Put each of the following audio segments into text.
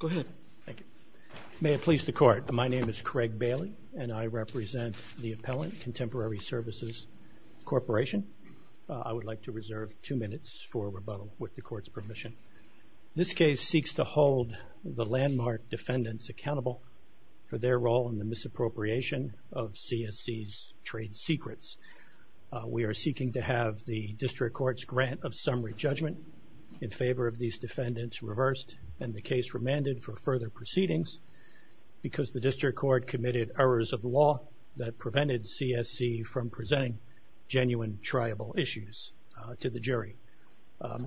Go ahead. Thank you. May it please the Court, my name is Craig Bailey, and I represent the appellant, Contemporary Services Corporation. I would like to reserve two minutes for rebuttal with the Court's permission. This case seeks to hold the landmark defendants accountable for their role in the misappropriation of CSC's trade secrets. We are seeking to have the District Court's grant of summary judgment in favor of these defendants reversed, and the case remanded for further proceedings because the District Court committed errors of law that prevented CSC from presenting genuine, triable issues to the jury.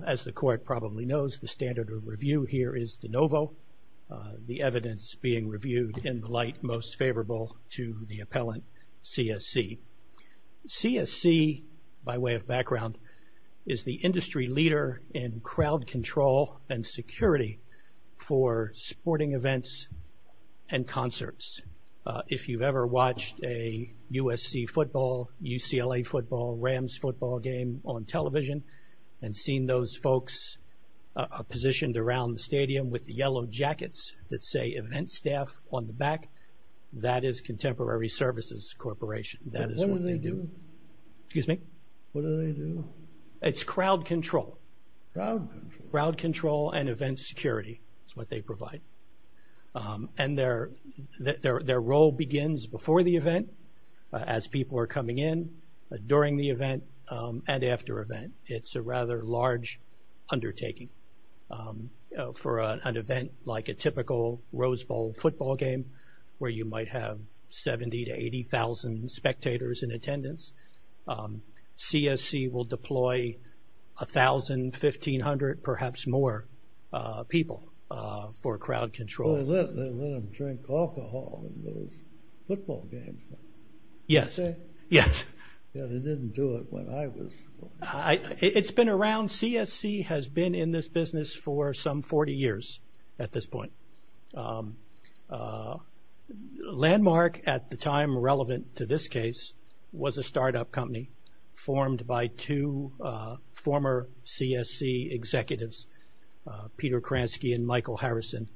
As the Court probably knows, the standard of review here is de novo, the evidence being reviewed in the light most favorable to the appellant, CSC. CSC, by way of background, is the industry leader in crowd control and security for sporting events and concerts. If you've ever watched a USC football, UCLA football, Rams football game on television and seen those folks positioned around the stadium with the yellow jackets that say Event Staff on the back, that is Contemporary Services Corporation. That is what they do. What do they do? Excuse me? What do they do? It's crowd control. Crowd control. Crowd control and event security is what they provide. And their role begins before the event, as people are coming in, during the event, and after event. It's a rather large undertaking. For an event like a typical Rose Bowl football game, where you might have 70,000 to 80,000 spectators in attendance, CSC will deploy 1,000, 1,500, perhaps more people for crowd control. They let them drink alcohol in those football games. Yes. They didn't do it when I was. It's been around. CSC has been in this business for some 40 years at this point. Landmark, at the time relevant to this case, was a startup company formed by two former CSC executives, Peter Kransky and Michael Harrison,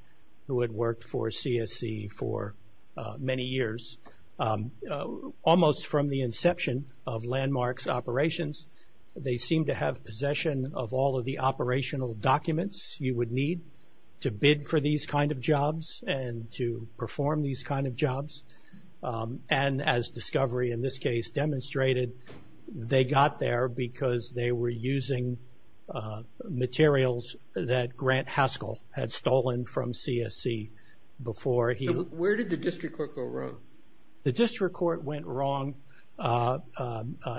who had worked for CSC for many years. Almost from the inception of Landmark's operations, they seemed to have possession of all of the operational documents you would need to bid for these kind of jobs and to perform these kind of jobs. And as discovery in this case demonstrated, they got there because they were using materials that Grant Haskell had stolen from CSC before he. Where did the district court go wrong? The district court went wrong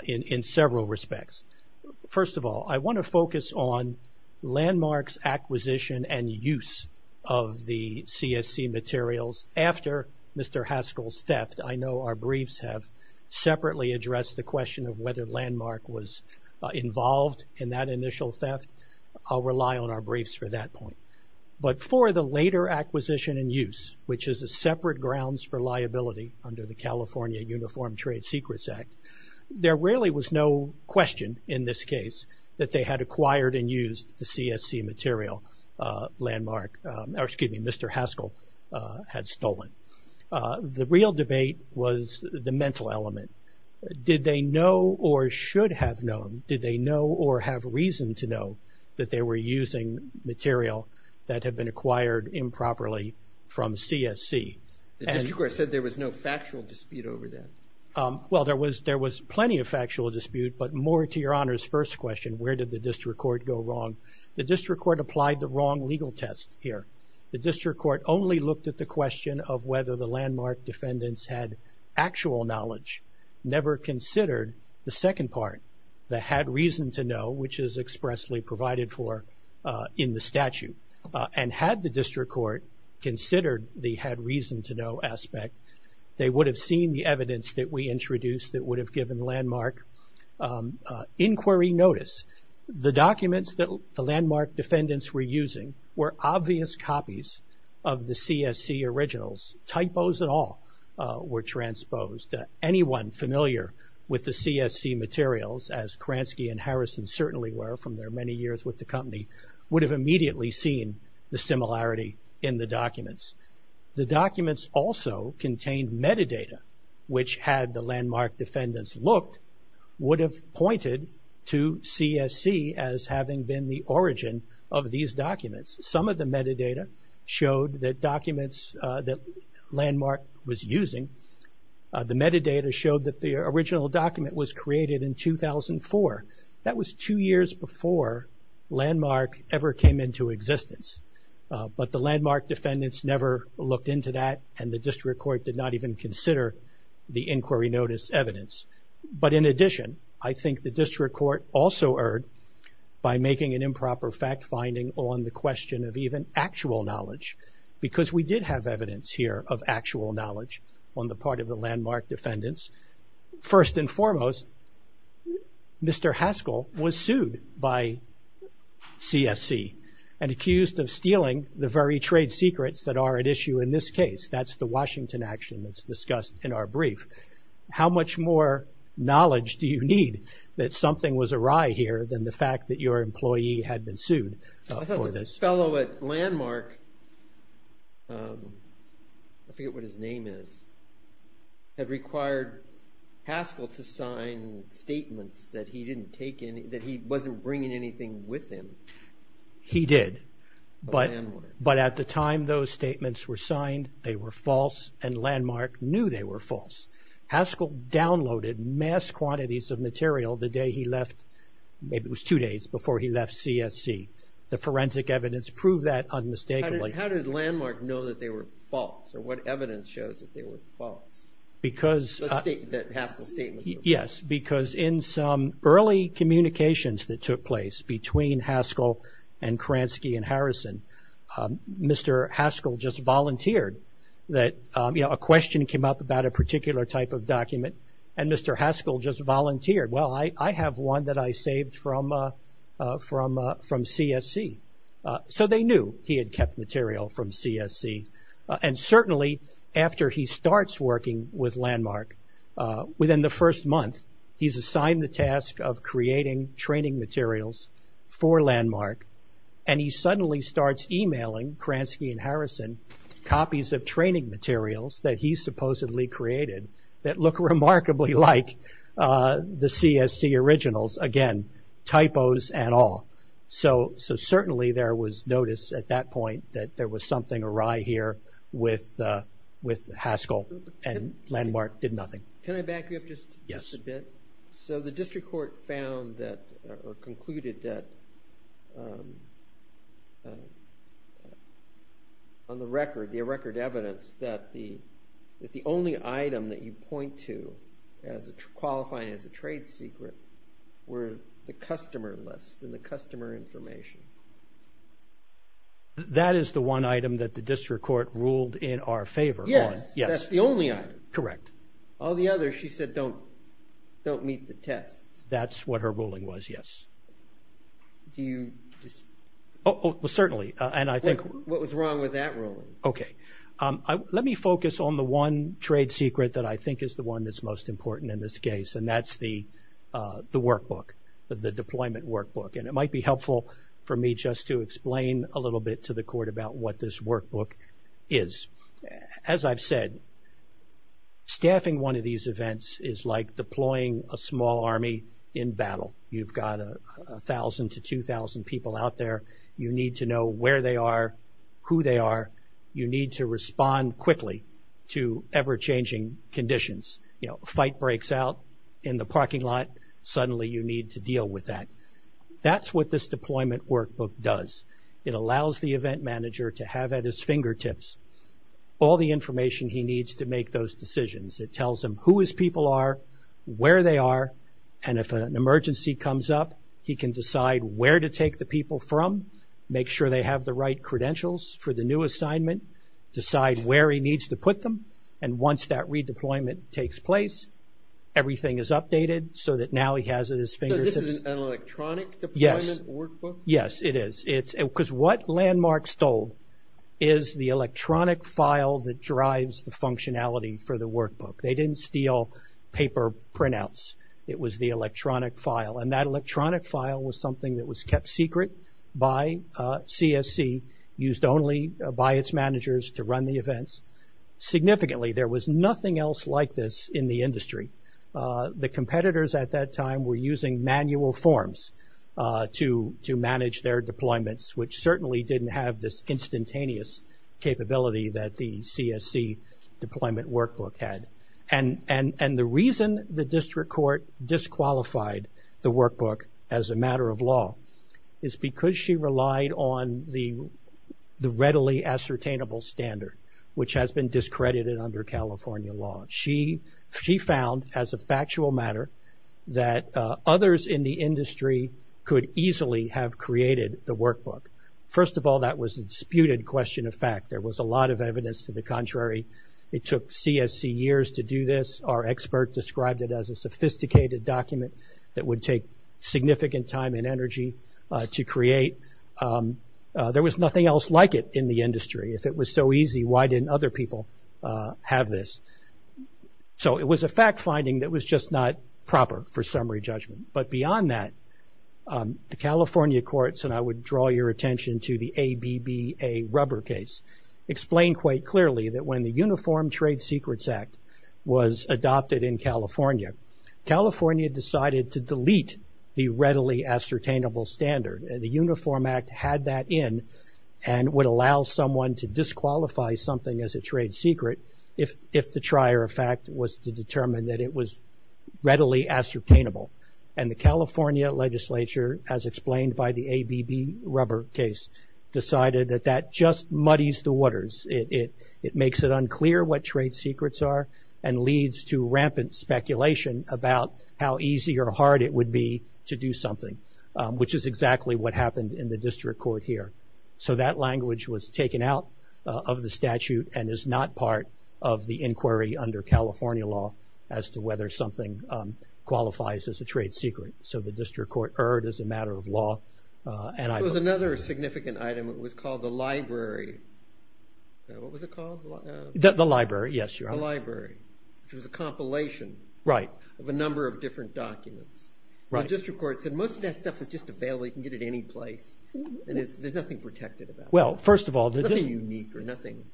in several respects. First of all, I want to focus on Landmark's acquisition and use of the CSC materials after Mr. Haskell's theft. I know our briefs have separately addressed the question of whether Landmark was involved in that initial theft. I'll rely on our briefs for that point. But for the later acquisition and use, which is a separate grounds for liability under the California Uniform Trade Secrets Act, there really was no question in this case that they had acquired and used the CSC material Landmark, or excuse me, Mr. Haskell had stolen. The real debate was the mental element. Did they know or should have known? Did they know or have reason to know that they were using material that had been acquired improperly from CSC? The district court said there was no factual dispute over that. Well, there was plenty of factual dispute, but more to Your Honor's first question, where did the district court go wrong? The district court applied the wrong legal test here. The district court only looked at the question of whether the Landmark defendants had actual knowledge, never considered the second part, that had reason to know, which is expressly provided for in the statute, and had the district court considered the had reason to know aspect, they would have seen the evidence that we introduced that would have given Landmark inquiry notice. The documents that the Landmark defendants were using were obvious copies of the CSC originals. Typos at all were transposed. Anyone familiar with the CSC materials, as Kransky and Harrison certainly were from their many years with the company, would have immediately seen the similarity in the documents. The documents also contained metadata, which had the Landmark defendants looked, would have pointed to CSC as having been the origin of these documents. Some of the metadata showed that documents that Landmark was using, the metadata showed that the original document was created in 2004. That was two years before Landmark ever came into existence. But the Landmark defendants never looked into that, and the district court did not even consider the inquiry notice evidence. But in addition, I think the district court also erred by making an improper fact finding on the question of even actual knowledge, because we did have evidence here of actual knowledge on the part of the Landmark defendants. First and foremost, Mr. Haskell was sued by CSC and accused of stealing the very trade secrets that are at issue in this case. That's the Washington action that's discussed in our brief. How much more knowledge do you need that something was awry here than the fact that your employee had been sued for this? I thought this fellow at Landmark, I forget what his name is, had required Haskell to sign statements that he didn't take any, that he wasn't bringing anything with him. He did. But at the time those statements were signed, they were false and Landmark knew they were false. Haskell downloaded mass quantities of material the day he left, maybe it was two days before he left CSC. The forensic evidence proved that unmistakably. How did Landmark know that they were false, or what evidence shows that they were false? That Haskell's statement was false. Yes, because in some early communications that took place between Haskell and Kransky and Harrison, Mr. Haskell just volunteered that a question came up about a particular type of document, and Mr. Haskell just volunteered, well I have one that I saved from CSC. So they knew he had kept material from CSC. And certainly after he starts working with Landmark, within the first month he's assigned the task of creating training materials for Landmark, and he suddenly starts emailing Kransky and Harrison copies of training materials that he supposedly created that look remarkably like the CSC originals. Again, typos and all. So certainly there was notice at that point that there was something awry here with Haskell, and Landmark did nothing. Can I back you up just a bit? Yes. So the district court found that, or concluded that on the record, the record evidence that the only item that you point to as qualifying as a customer information? That is the one item that the district court ruled in our favor on. Yes. That's the only item. Correct. All the others she said don't meet the test. That's what her ruling was, yes. Do you? Well certainly, and I think. What was wrong with that ruling? Okay. Let me focus on the one trade secret that I think is the one that's most important in this case, and that's the workbook, the deployment workbook. And it might be helpful for me just to explain a little bit to the court about what this workbook is. As I've said, staffing one of these events is like deploying a small army in battle. You've got 1,000 to 2,000 people out there. You need to know where they are, who they are. You need to respond quickly to ever-changing conditions. You know, a fight breaks out in the parking lot, and suddenly you need to deal with that. That's what this deployment workbook does. It allows the event manager to have at his fingertips all the information he needs to make those decisions. It tells him who his people are, where they are, and if an emergency comes up he can decide where to take the people from, make sure they have the right credentials for the new assignment, decide where he needs to put them, and once that redeployment takes place, everything is updated so that now he has it at his fingertips. So this is an electronic deployment workbook? Yes, it is. Because what Landmark stole is the electronic file that drives the functionality for the workbook. They didn't steal paper printouts. It was the electronic file. And that electronic file was something that was kept secret by CSC, used only by its managers to run the events. Significantly, there was nothing else like this in the industry. The competitors at that time were using manual forms to manage their deployments, which certainly didn't have this instantaneous capability that the CSC deployment workbook had. And the reason the district court disqualified the workbook as a matter of law is because she relied on the readily ascertainable standard, which has been discredited under California law. She found, as a factual matter, that others in the industry could easily have created the workbook. First of all, that was a disputed question of fact. There was a lot of evidence to the contrary. It took CSC years to do this. Our expert described it as a sophisticated document that would take significant time and energy to create. There was nothing else like it in the industry. If it was so easy, why didn't other people have this? So it was a fact finding that was just not proper for summary judgment. But beyond that, the California courts, and I would draw your attention to the ABBA rubber case, explained quite clearly that when the Uniform Trade Secrets Act was adopted in California, California decided to delete the readily ascertainable standard. The Uniform Act had that in and would allow someone to disqualify something as a trade secret if the trier of fact was to determine that it was readily ascertainable. And the California legislature, as explained by the ABB rubber case, decided that that just muddies the waters. It makes it unclear what trade secrets are and leads to rampant speculation about how easy or hard it would be to do something, which is exactly what happened in the district court here. So that language was taken out of the statute and is not part of the inquiry under California law as to whether something qualifies as a trade secret. So the district court erred as a matter of law. There was another significant item. It was called the library. What was it called? The library, yes. The library, which was a compilation of a number of different documents. The district court said most of that stuff is just available. You can get it any place. There's nothing protected about it. Nothing unique or nothing.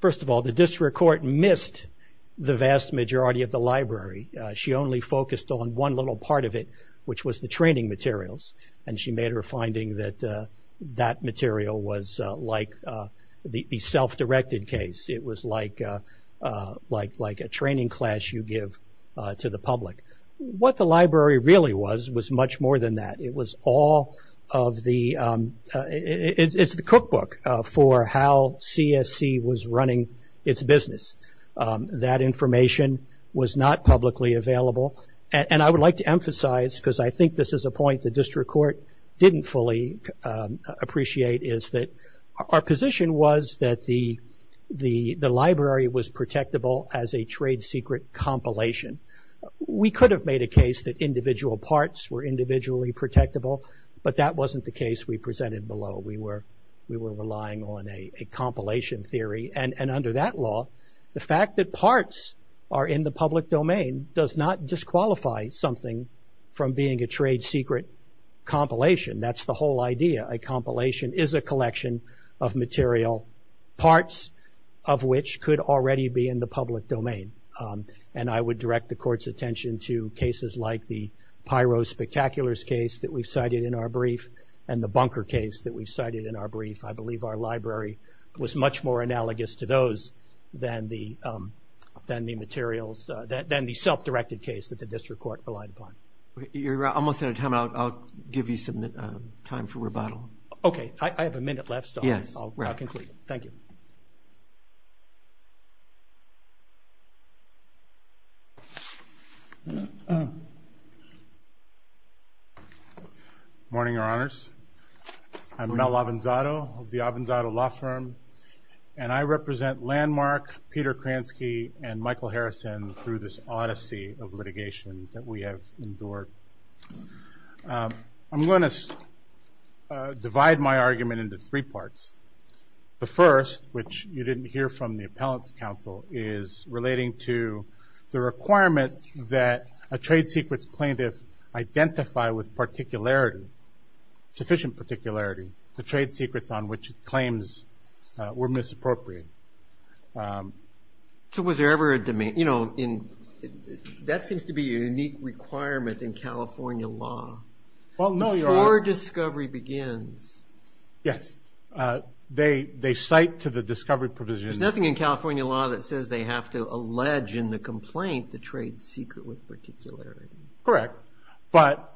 First of all, the district court missed the vast majority of the library. She only focused on one little part of it, which was the training materials, and she made her finding that that material was like the self-directed case. It was like a training class you give to the public. What the library really was was much more than that. It was all of the ‑‑ it's the cookbook for how CSC was running its business. That information was not publicly available, and I would like to emphasize, because I think this is a point the district court didn't fully appreciate, is that our position was that the library was protectable as a trade secret compilation. We could have made a case that individual parts were individually protectable, but that wasn't the case we presented below. We were relying on a compilation theory, and under that law, the fact that parts are in the public domain does not disqualify something from being a trade secret compilation. That's the whole idea. A compilation is a collection of material, parts of which could already be in the public domain. I would direct the court's attention to cases like the Pyro Spectacular's case that we cited in our brief and the Bunker case that we cited in our brief. I believe our library was much more analogous to those than the self-directed case that the district court relied upon. You're almost out of time. I'll give you some time for rebuttal. Okay. I have a minute left, so I'll conclude. Thank you. Good morning, Your Honors. I'm Mel L'Avenzato of the L'Avenzato Law Firm, and I represent Landmark, Peter Kransky, and Michael Harrison through this odyssey of litigation that we have endured. I'm going to divide my argument into three parts. The first, which you didn't hear from the appellant's counsel, is relating to the requirement that a trade secrets plaintiff identify with particularity, sufficient particularity, the trade secrets on which claims were misappropriated. So was there ever a domain? That seems to be a unique requirement in California law. Well, no, Your Honor. Before discovery begins. Yes. They cite to the discovery provision. There's nothing in California law that says they have to allege in the complaint the trade secret with particularity. Correct. But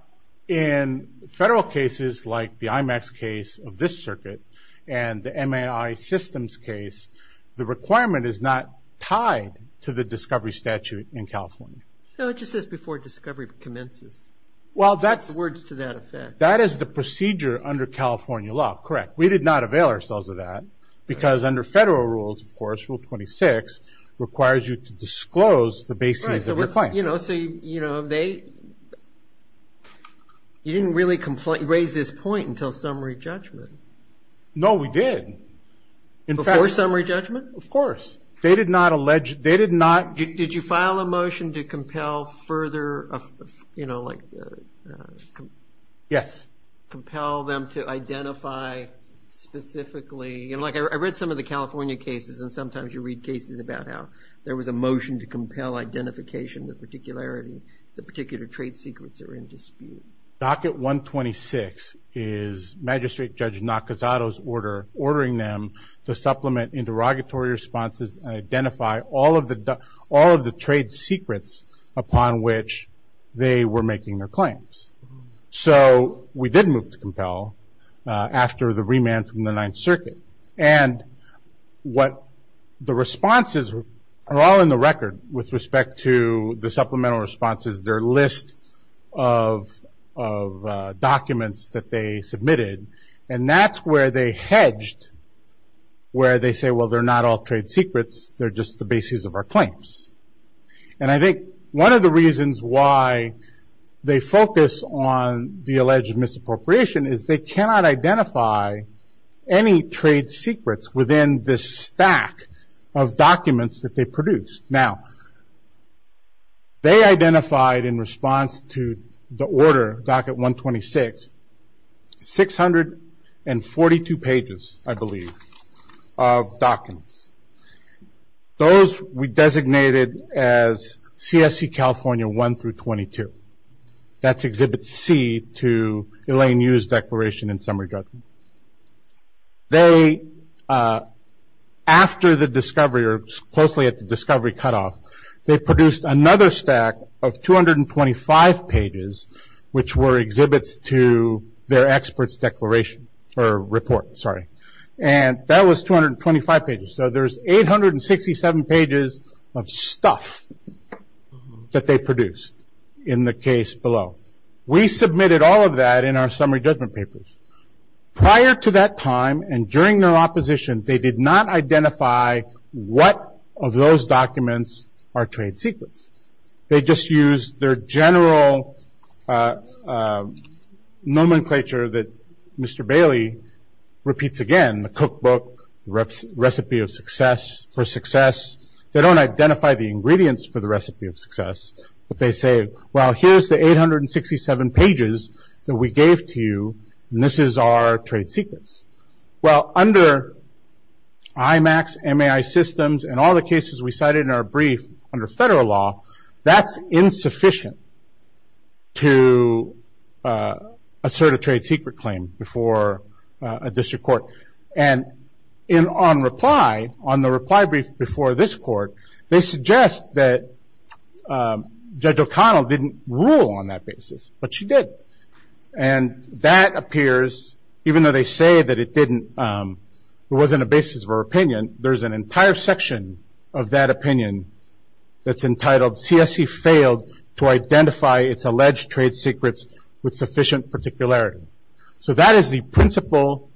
in federal cases like the IMAX case of this circuit and the MAI systems case, the requirement is not tied to the discovery statute in California. No, it just says before discovery commences. Well, that's the procedure under California law. Correct. We did not avail ourselves of that because under federal rules, of course, Rule 26 requires you to disclose the baseness of your claims. So you didn't really raise this point until summary judgment. No, we did. Before summary judgment? Of course. They did not allege they did not. Did you file a motion to compel further, you know, like. Yes. Compel them to identify specifically. You know, like I read some of the California cases, and sometimes you read cases about how there was a motion to compel identification with particularity, the particular trade secrets are in dispute. Docket 126 is Magistrate Judge Nakazato's order ordering them to supplement interrogatory responses and identify all of the trade secrets upon which they were making their claims. So we did move to compel after the remand from the Ninth Circuit. And what the responses are all in the record with respect to the supplemental responses, their list of documents that they submitted, and that's where they hedged, where they say, well, they're not all trade secrets, they're just the basis of our claims. And I think one of the reasons why they focus on the alleged misappropriation is they cannot identify any trade secrets within this stack of documents that they produced. Now, they identified in response to the order, Docket 126, 642 pages, I believe, of documents. Those we designated as CSC California 1 through 22. That's Exhibit C to Elaine Yu's declaration in some regard. They, after the discovery, or closely at the discovery cutoff, they produced another stack of 225 pages, which were exhibits to their expert's declaration, or report, sorry. And that was 225 pages. So there's 867 pages of stuff that they produced in the case below. We submitted all of that in our summary judgment papers. Prior to that time and during their opposition, they did not identify what of those documents are trade secrets. They just used their general nomenclature that Mr. Bailey repeats again, the cookbook, the recipe of success, for success. They don't identify the ingredients for the recipe of success, but they say, well, here's the 867 pages that we gave to you, and this is our trade secrets. Well, under IMAX, MAI systems, and all the cases we cited in our brief under federal law, that's insufficient to assert a trade secret claim before a district court. And on reply, on the reply brief before this court, they suggest that Judge O'Connell didn't rule on that basis, but she did. And that appears, even though they say that it didn't, it wasn't a basis of her opinion, there's an entire section of that opinion that's entitled, CSE failed to identify its alleged trade secrets with sufficient particularity. So that is the principle,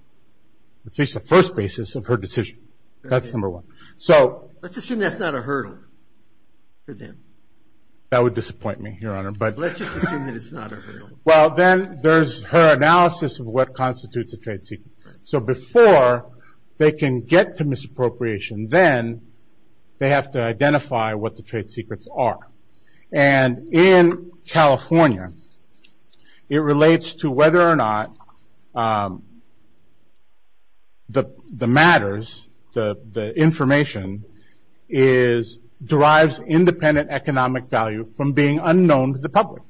at least the first basis of her decision. That's number one. Let's assume that's not a hurdle for them. That would disappoint me, Your Honor. Let's just assume that it's not a hurdle. Well, then there's her analysis of what constitutes a trade secret. So before they can get to misappropriation, then they have to identify what the trade secrets are. And in California, it relates to whether or not the matters, the information, derives independent economic value from being unknown to the public,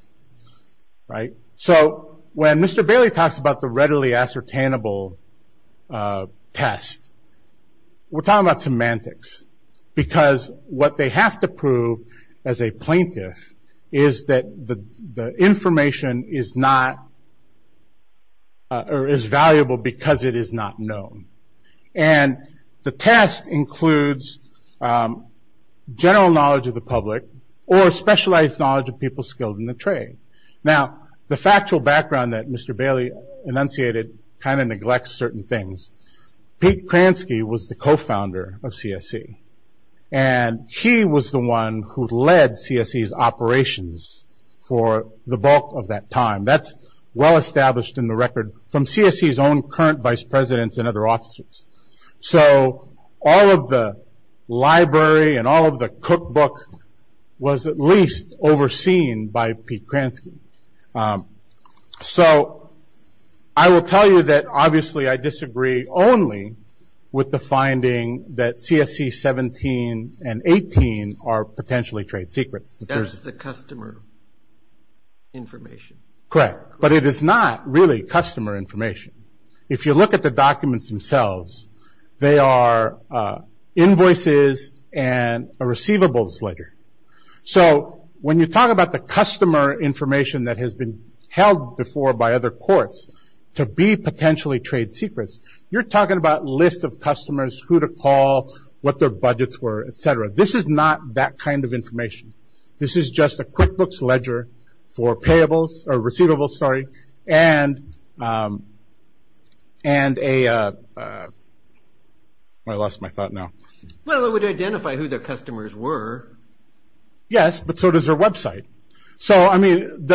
right? So when Mr. Bailey talks about the readily ascertainable test, we're talking about semantics. Because what they have to prove as a plaintiff is that the information is not, or is valuable because it is not known. And the test includes general knowledge of the public or specialized knowledge of people skilled in the trade. Now, the factual background that Mr. Bailey enunciated kind of neglects certain things. Pete Kransky was the co-founder of CSE. And he was the one who led CSE's operations for the bulk of that time. That's well established in the record from CSE's own current vice presidents and other officers. So all of the library and all of the cookbook was at least overseen by Pete Kransky. So I will tell you that obviously I disagree only with the finding that CSE 17 and 18 are potentially trade secrets. That's the customer information. Correct. But it is not really customer information. If you look at the documents themselves, they are invoices and a receivables ledger. So when you talk about the customer information that has been held before by other courts to be potentially trade secrets, you're talking about lists of customers, who to call, what their budgets were, et cetera. This is not that kind of information. This is just a QuickBooks ledger for payables, or receivables, sorry, and a, I lost my thought now. Well, it would identify who their customers were. Yes, but so does their website. So I mean,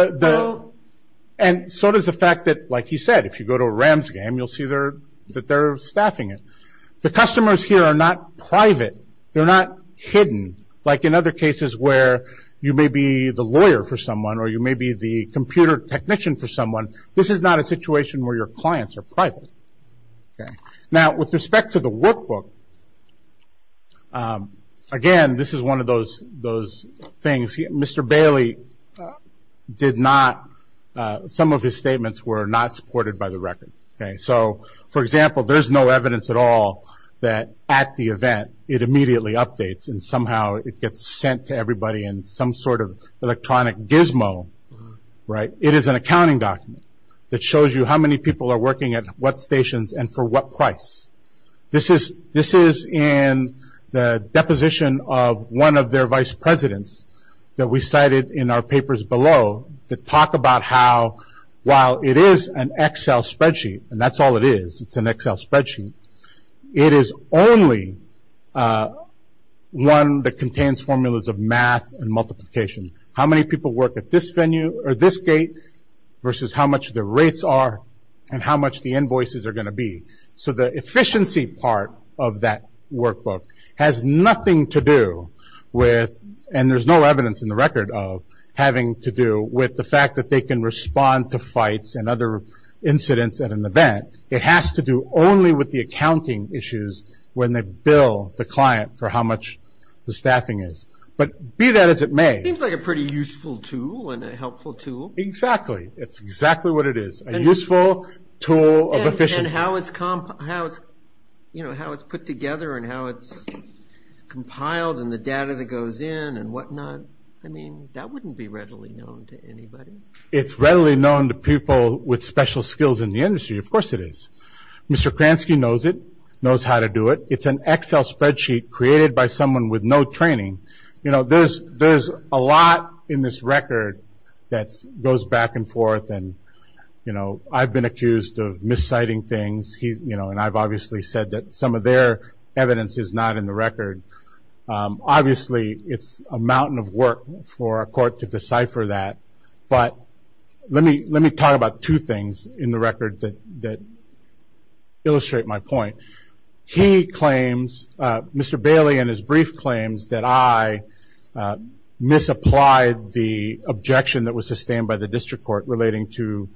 and so does the fact that, like he said, if you go to a Rams game, you'll see that they're staffing it. The customers here are not private. They're not hidden, like in other cases where you may be the lawyer for someone or you may be the computer technician for someone. This is not a situation where your clients are private. Now, with respect to the workbook, again, this is one of those things. Mr. Bailey did not, some of his statements were not supported by the record. For example, there's no evidence at all that at the event it immediately updates and somehow it gets sent to everybody in some sort of electronic gizmo. It is an accounting document that shows you how many people are working at what stations and for what price. This is in the deposition of one of their vice presidents that we cited in our papers below that talk about how while it is an Excel spreadsheet, and that's all it is, it's an Excel spreadsheet, it is only one that contains formulas of math and multiplication. How many people work at this venue or this gate versus how much the rates are and how much the invoices are going to be. So the efficiency part of that workbook has nothing to do with, and there's no evidence in the record of having to do with the fact that they can respond to fights and other incidents at an event. It has to do only with the accounting issues when they bill the client for how much the staffing is. But be that as it may. It seems like a pretty useful tool and a helpful tool. Exactly. It's exactly what it is, a useful tool of efficiency. And how it's put together and how it's compiled and the data that goes in and whatnot, I mean, that wouldn't be readily known to anybody. It's readily known to people with special skills in the industry. Of course it is. Mr. Kransky knows it, knows how to do it. It's an Excel spreadsheet created by someone with no training. There's a lot in this record that goes back and forth, and I've been accused of misciting things, and I've obviously said that some of their evidence is not in the record. Obviously it's a mountain of work for a court to decipher that. But let me talk about two things in the record that illustrate my point. He claims, Mr. Bailey in his brief claims, that I misapplied the objection that was sustained by the district court relating to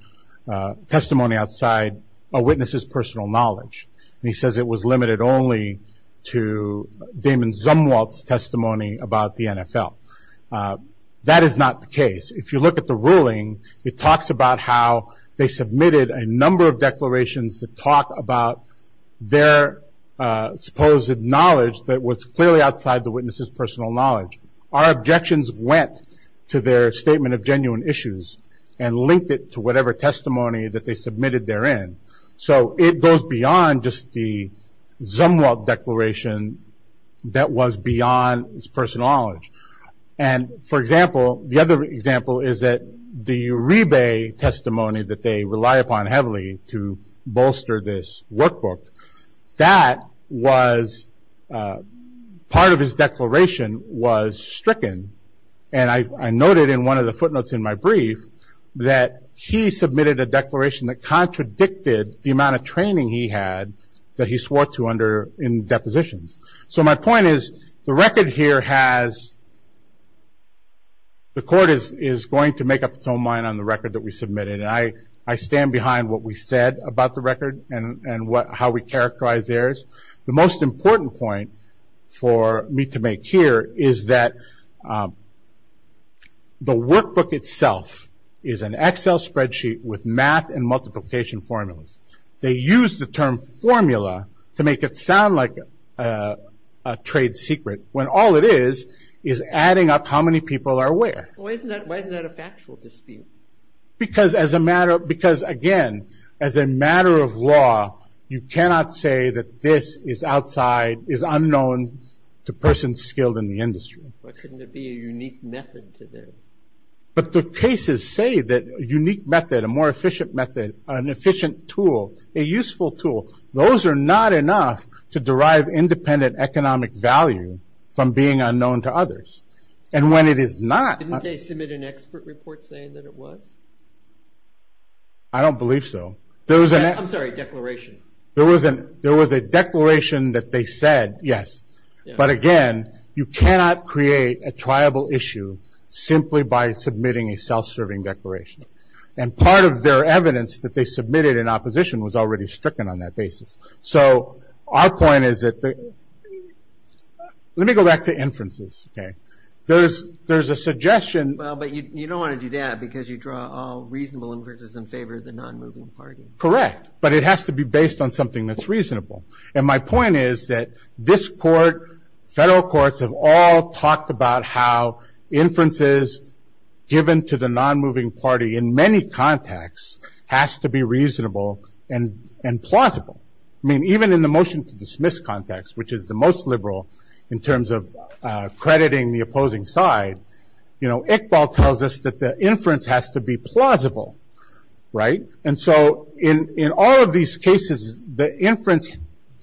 testimony outside a witness's personal knowledge. And he says it was limited only to Damon Zumwalt's testimony about the NFL. That is not the case. If you look at the ruling, it talks about how they submitted a number of declarations to talk about their supposed knowledge that was clearly outside the witness's personal knowledge. Our objections went to their statement of genuine issues and linked it to whatever testimony that they submitted therein. So it goes beyond just the Zumwalt declaration that was beyond his personal knowledge. And, for example, the other example is that the Uribe testimony that they rely upon heavily to bolster this workbook. That was part of his declaration was stricken. And I noted in one of the footnotes in my brief that he submitted a declaration that contradicted the amount of training he had that he swore to in depositions. So my point is the record here has the court is going to make up its own mind on the record that we submitted. And I stand behind what we said about the record and how we characterize errors. The most important point for me to make here is that the workbook itself is an Excel spreadsheet with math and multiplication formulas. They use the term formula to make it sound like a trade secret when all it is is adding up how many people are where. Why isn't that a factual dispute? Because, again, as a matter of law, you cannot say that this is unknown to persons skilled in the industry. Why couldn't there be a unique method to this? But the cases say that a unique method, a more efficient method, an efficient tool, a useful tool, those are not enough to derive independent economic value from being unknown to others. And when it is not... Didn't they submit an expert report saying that it was? I don't believe so. I'm sorry, declaration. There was a declaration that they said, yes. But, again, you cannot create a triable issue simply by submitting a self-serving declaration. And part of their evidence that they submitted in opposition was already stricken on that basis. So our point is that... Let me go back to inferences, okay? There's a suggestion... Well, but you don't want to do that because you draw all reasonable inferences in favor of the non-moving party. Correct, but it has to be based on something that's reasonable. And my point is that this court, federal courts, have all talked about how inferences given to the non-moving party in many contexts has to be reasonable and plausible. I mean, even in the motion to dismiss context, which is the most liberal in terms of crediting the opposing side, Iqbal tells us that the inference has to be plausible, right? And so in all of these cases, the inference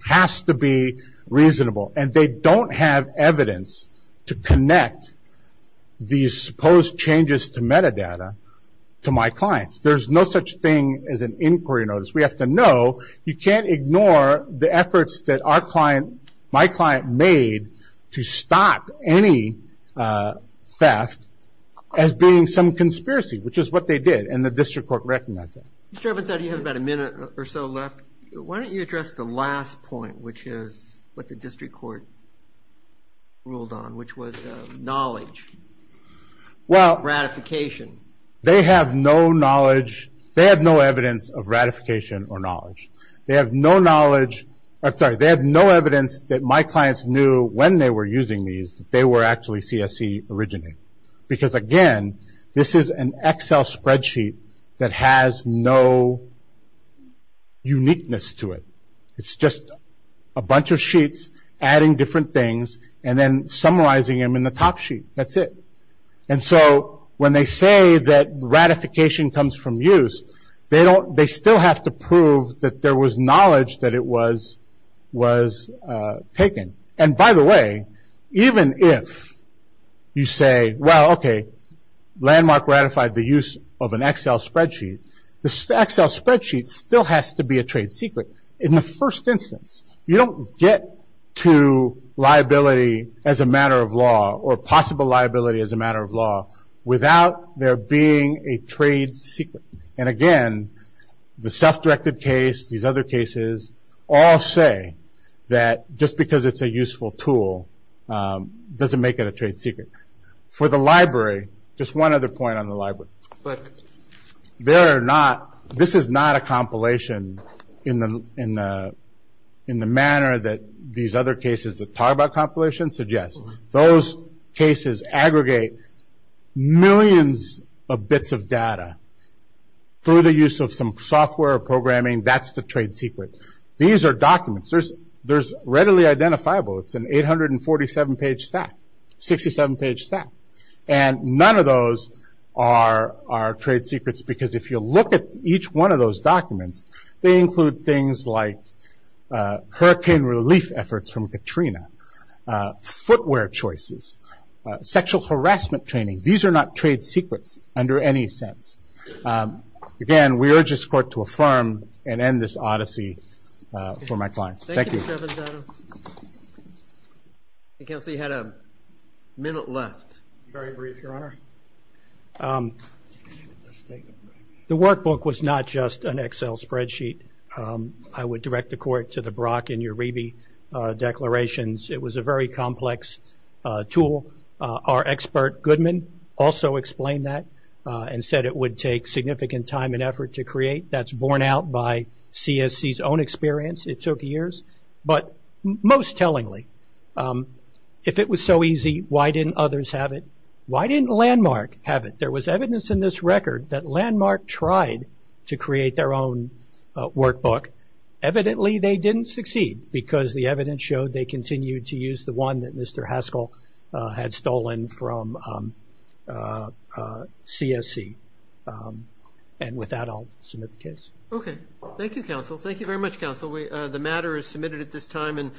has to be reasonable. And they don't have evidence to connect these supposed changes to metadata to my clients. There's no such thing as an inquiry notice. We have to know. You can't ignore the efforts that my client made to stop any theft as being some conspiracy, which is what they did. And the district court recognized that. Mr. Evans, I know you have about a minute or so left. Why don't you address the last point, which is what the district court ruled on, which was knowledge, ratification. They have no knowledge. They have no evidence of ratification or knowledge. They have no knowledge. I'm sorry. They have no evidence that my clients knew when they were using these that they were actually CSE originating. Because, again, this is an Excel spreadsheet that has no uniqueness to it. It's just a bunch of sheets adding different things and then summarizing them in the top sheet. That's it. And so when they say that ratification comes from use, they still have to prove that there was knowledge that it was taken. And, by the way, even if you say, well, okay, Landmark ratified the use of an Excel spreadsheet, the Excel spreadsheet still has to be a trade secret in the first instance. You don't get to liability as a matter of law or possible liability as a matter of law without there being a trade secret. And, again, the self-directed case, these other cases, all say that just because it's a useful tool doesn't make it a trade secret. For the library, just one other point on the library. This is not a compilation in the manner that these other cases that talk about compilations suggest. Those cases aggregate millions of bits of data through the use of some software or programming. That's the trade secret. These are documents. They're readily identifiable. It's an 847-page stack, 67-page stack. And none of those are trade secrets because if you look at each one of those documents, they include things like hurricane relief efforts from Katrina, footwear choices, sexual harassment training. These are not trade secrets under any sense. Again, we urge this court to affirm and end this odyssey for my clients. Thank you. Thank you, Mr. Venzato. I can see we had a minute left. Very brief, Your Honor. The workbook was not just an Excel spreadsheet. I would direct the court to the Brock and Uribe declarations. It was a very complex tool. Our expert, Goodman, also explained that and said it would take significant time and effort to create. That's borne out by CSC's own experience. It took years. But most tellingly, if it was so easy, why didn't others have it? Why didn't Landmark have it? There was evidence in this record that Landmark tried to create their own workbook. Evidently, they didn't succeed because the evidence showed they continued to use the one that Mr. Haskell had stolen from CSC. And with that, I'll submit the case. Okay. Thank you, counsel. Thank you very much, counsel. The matter is submitted at this time.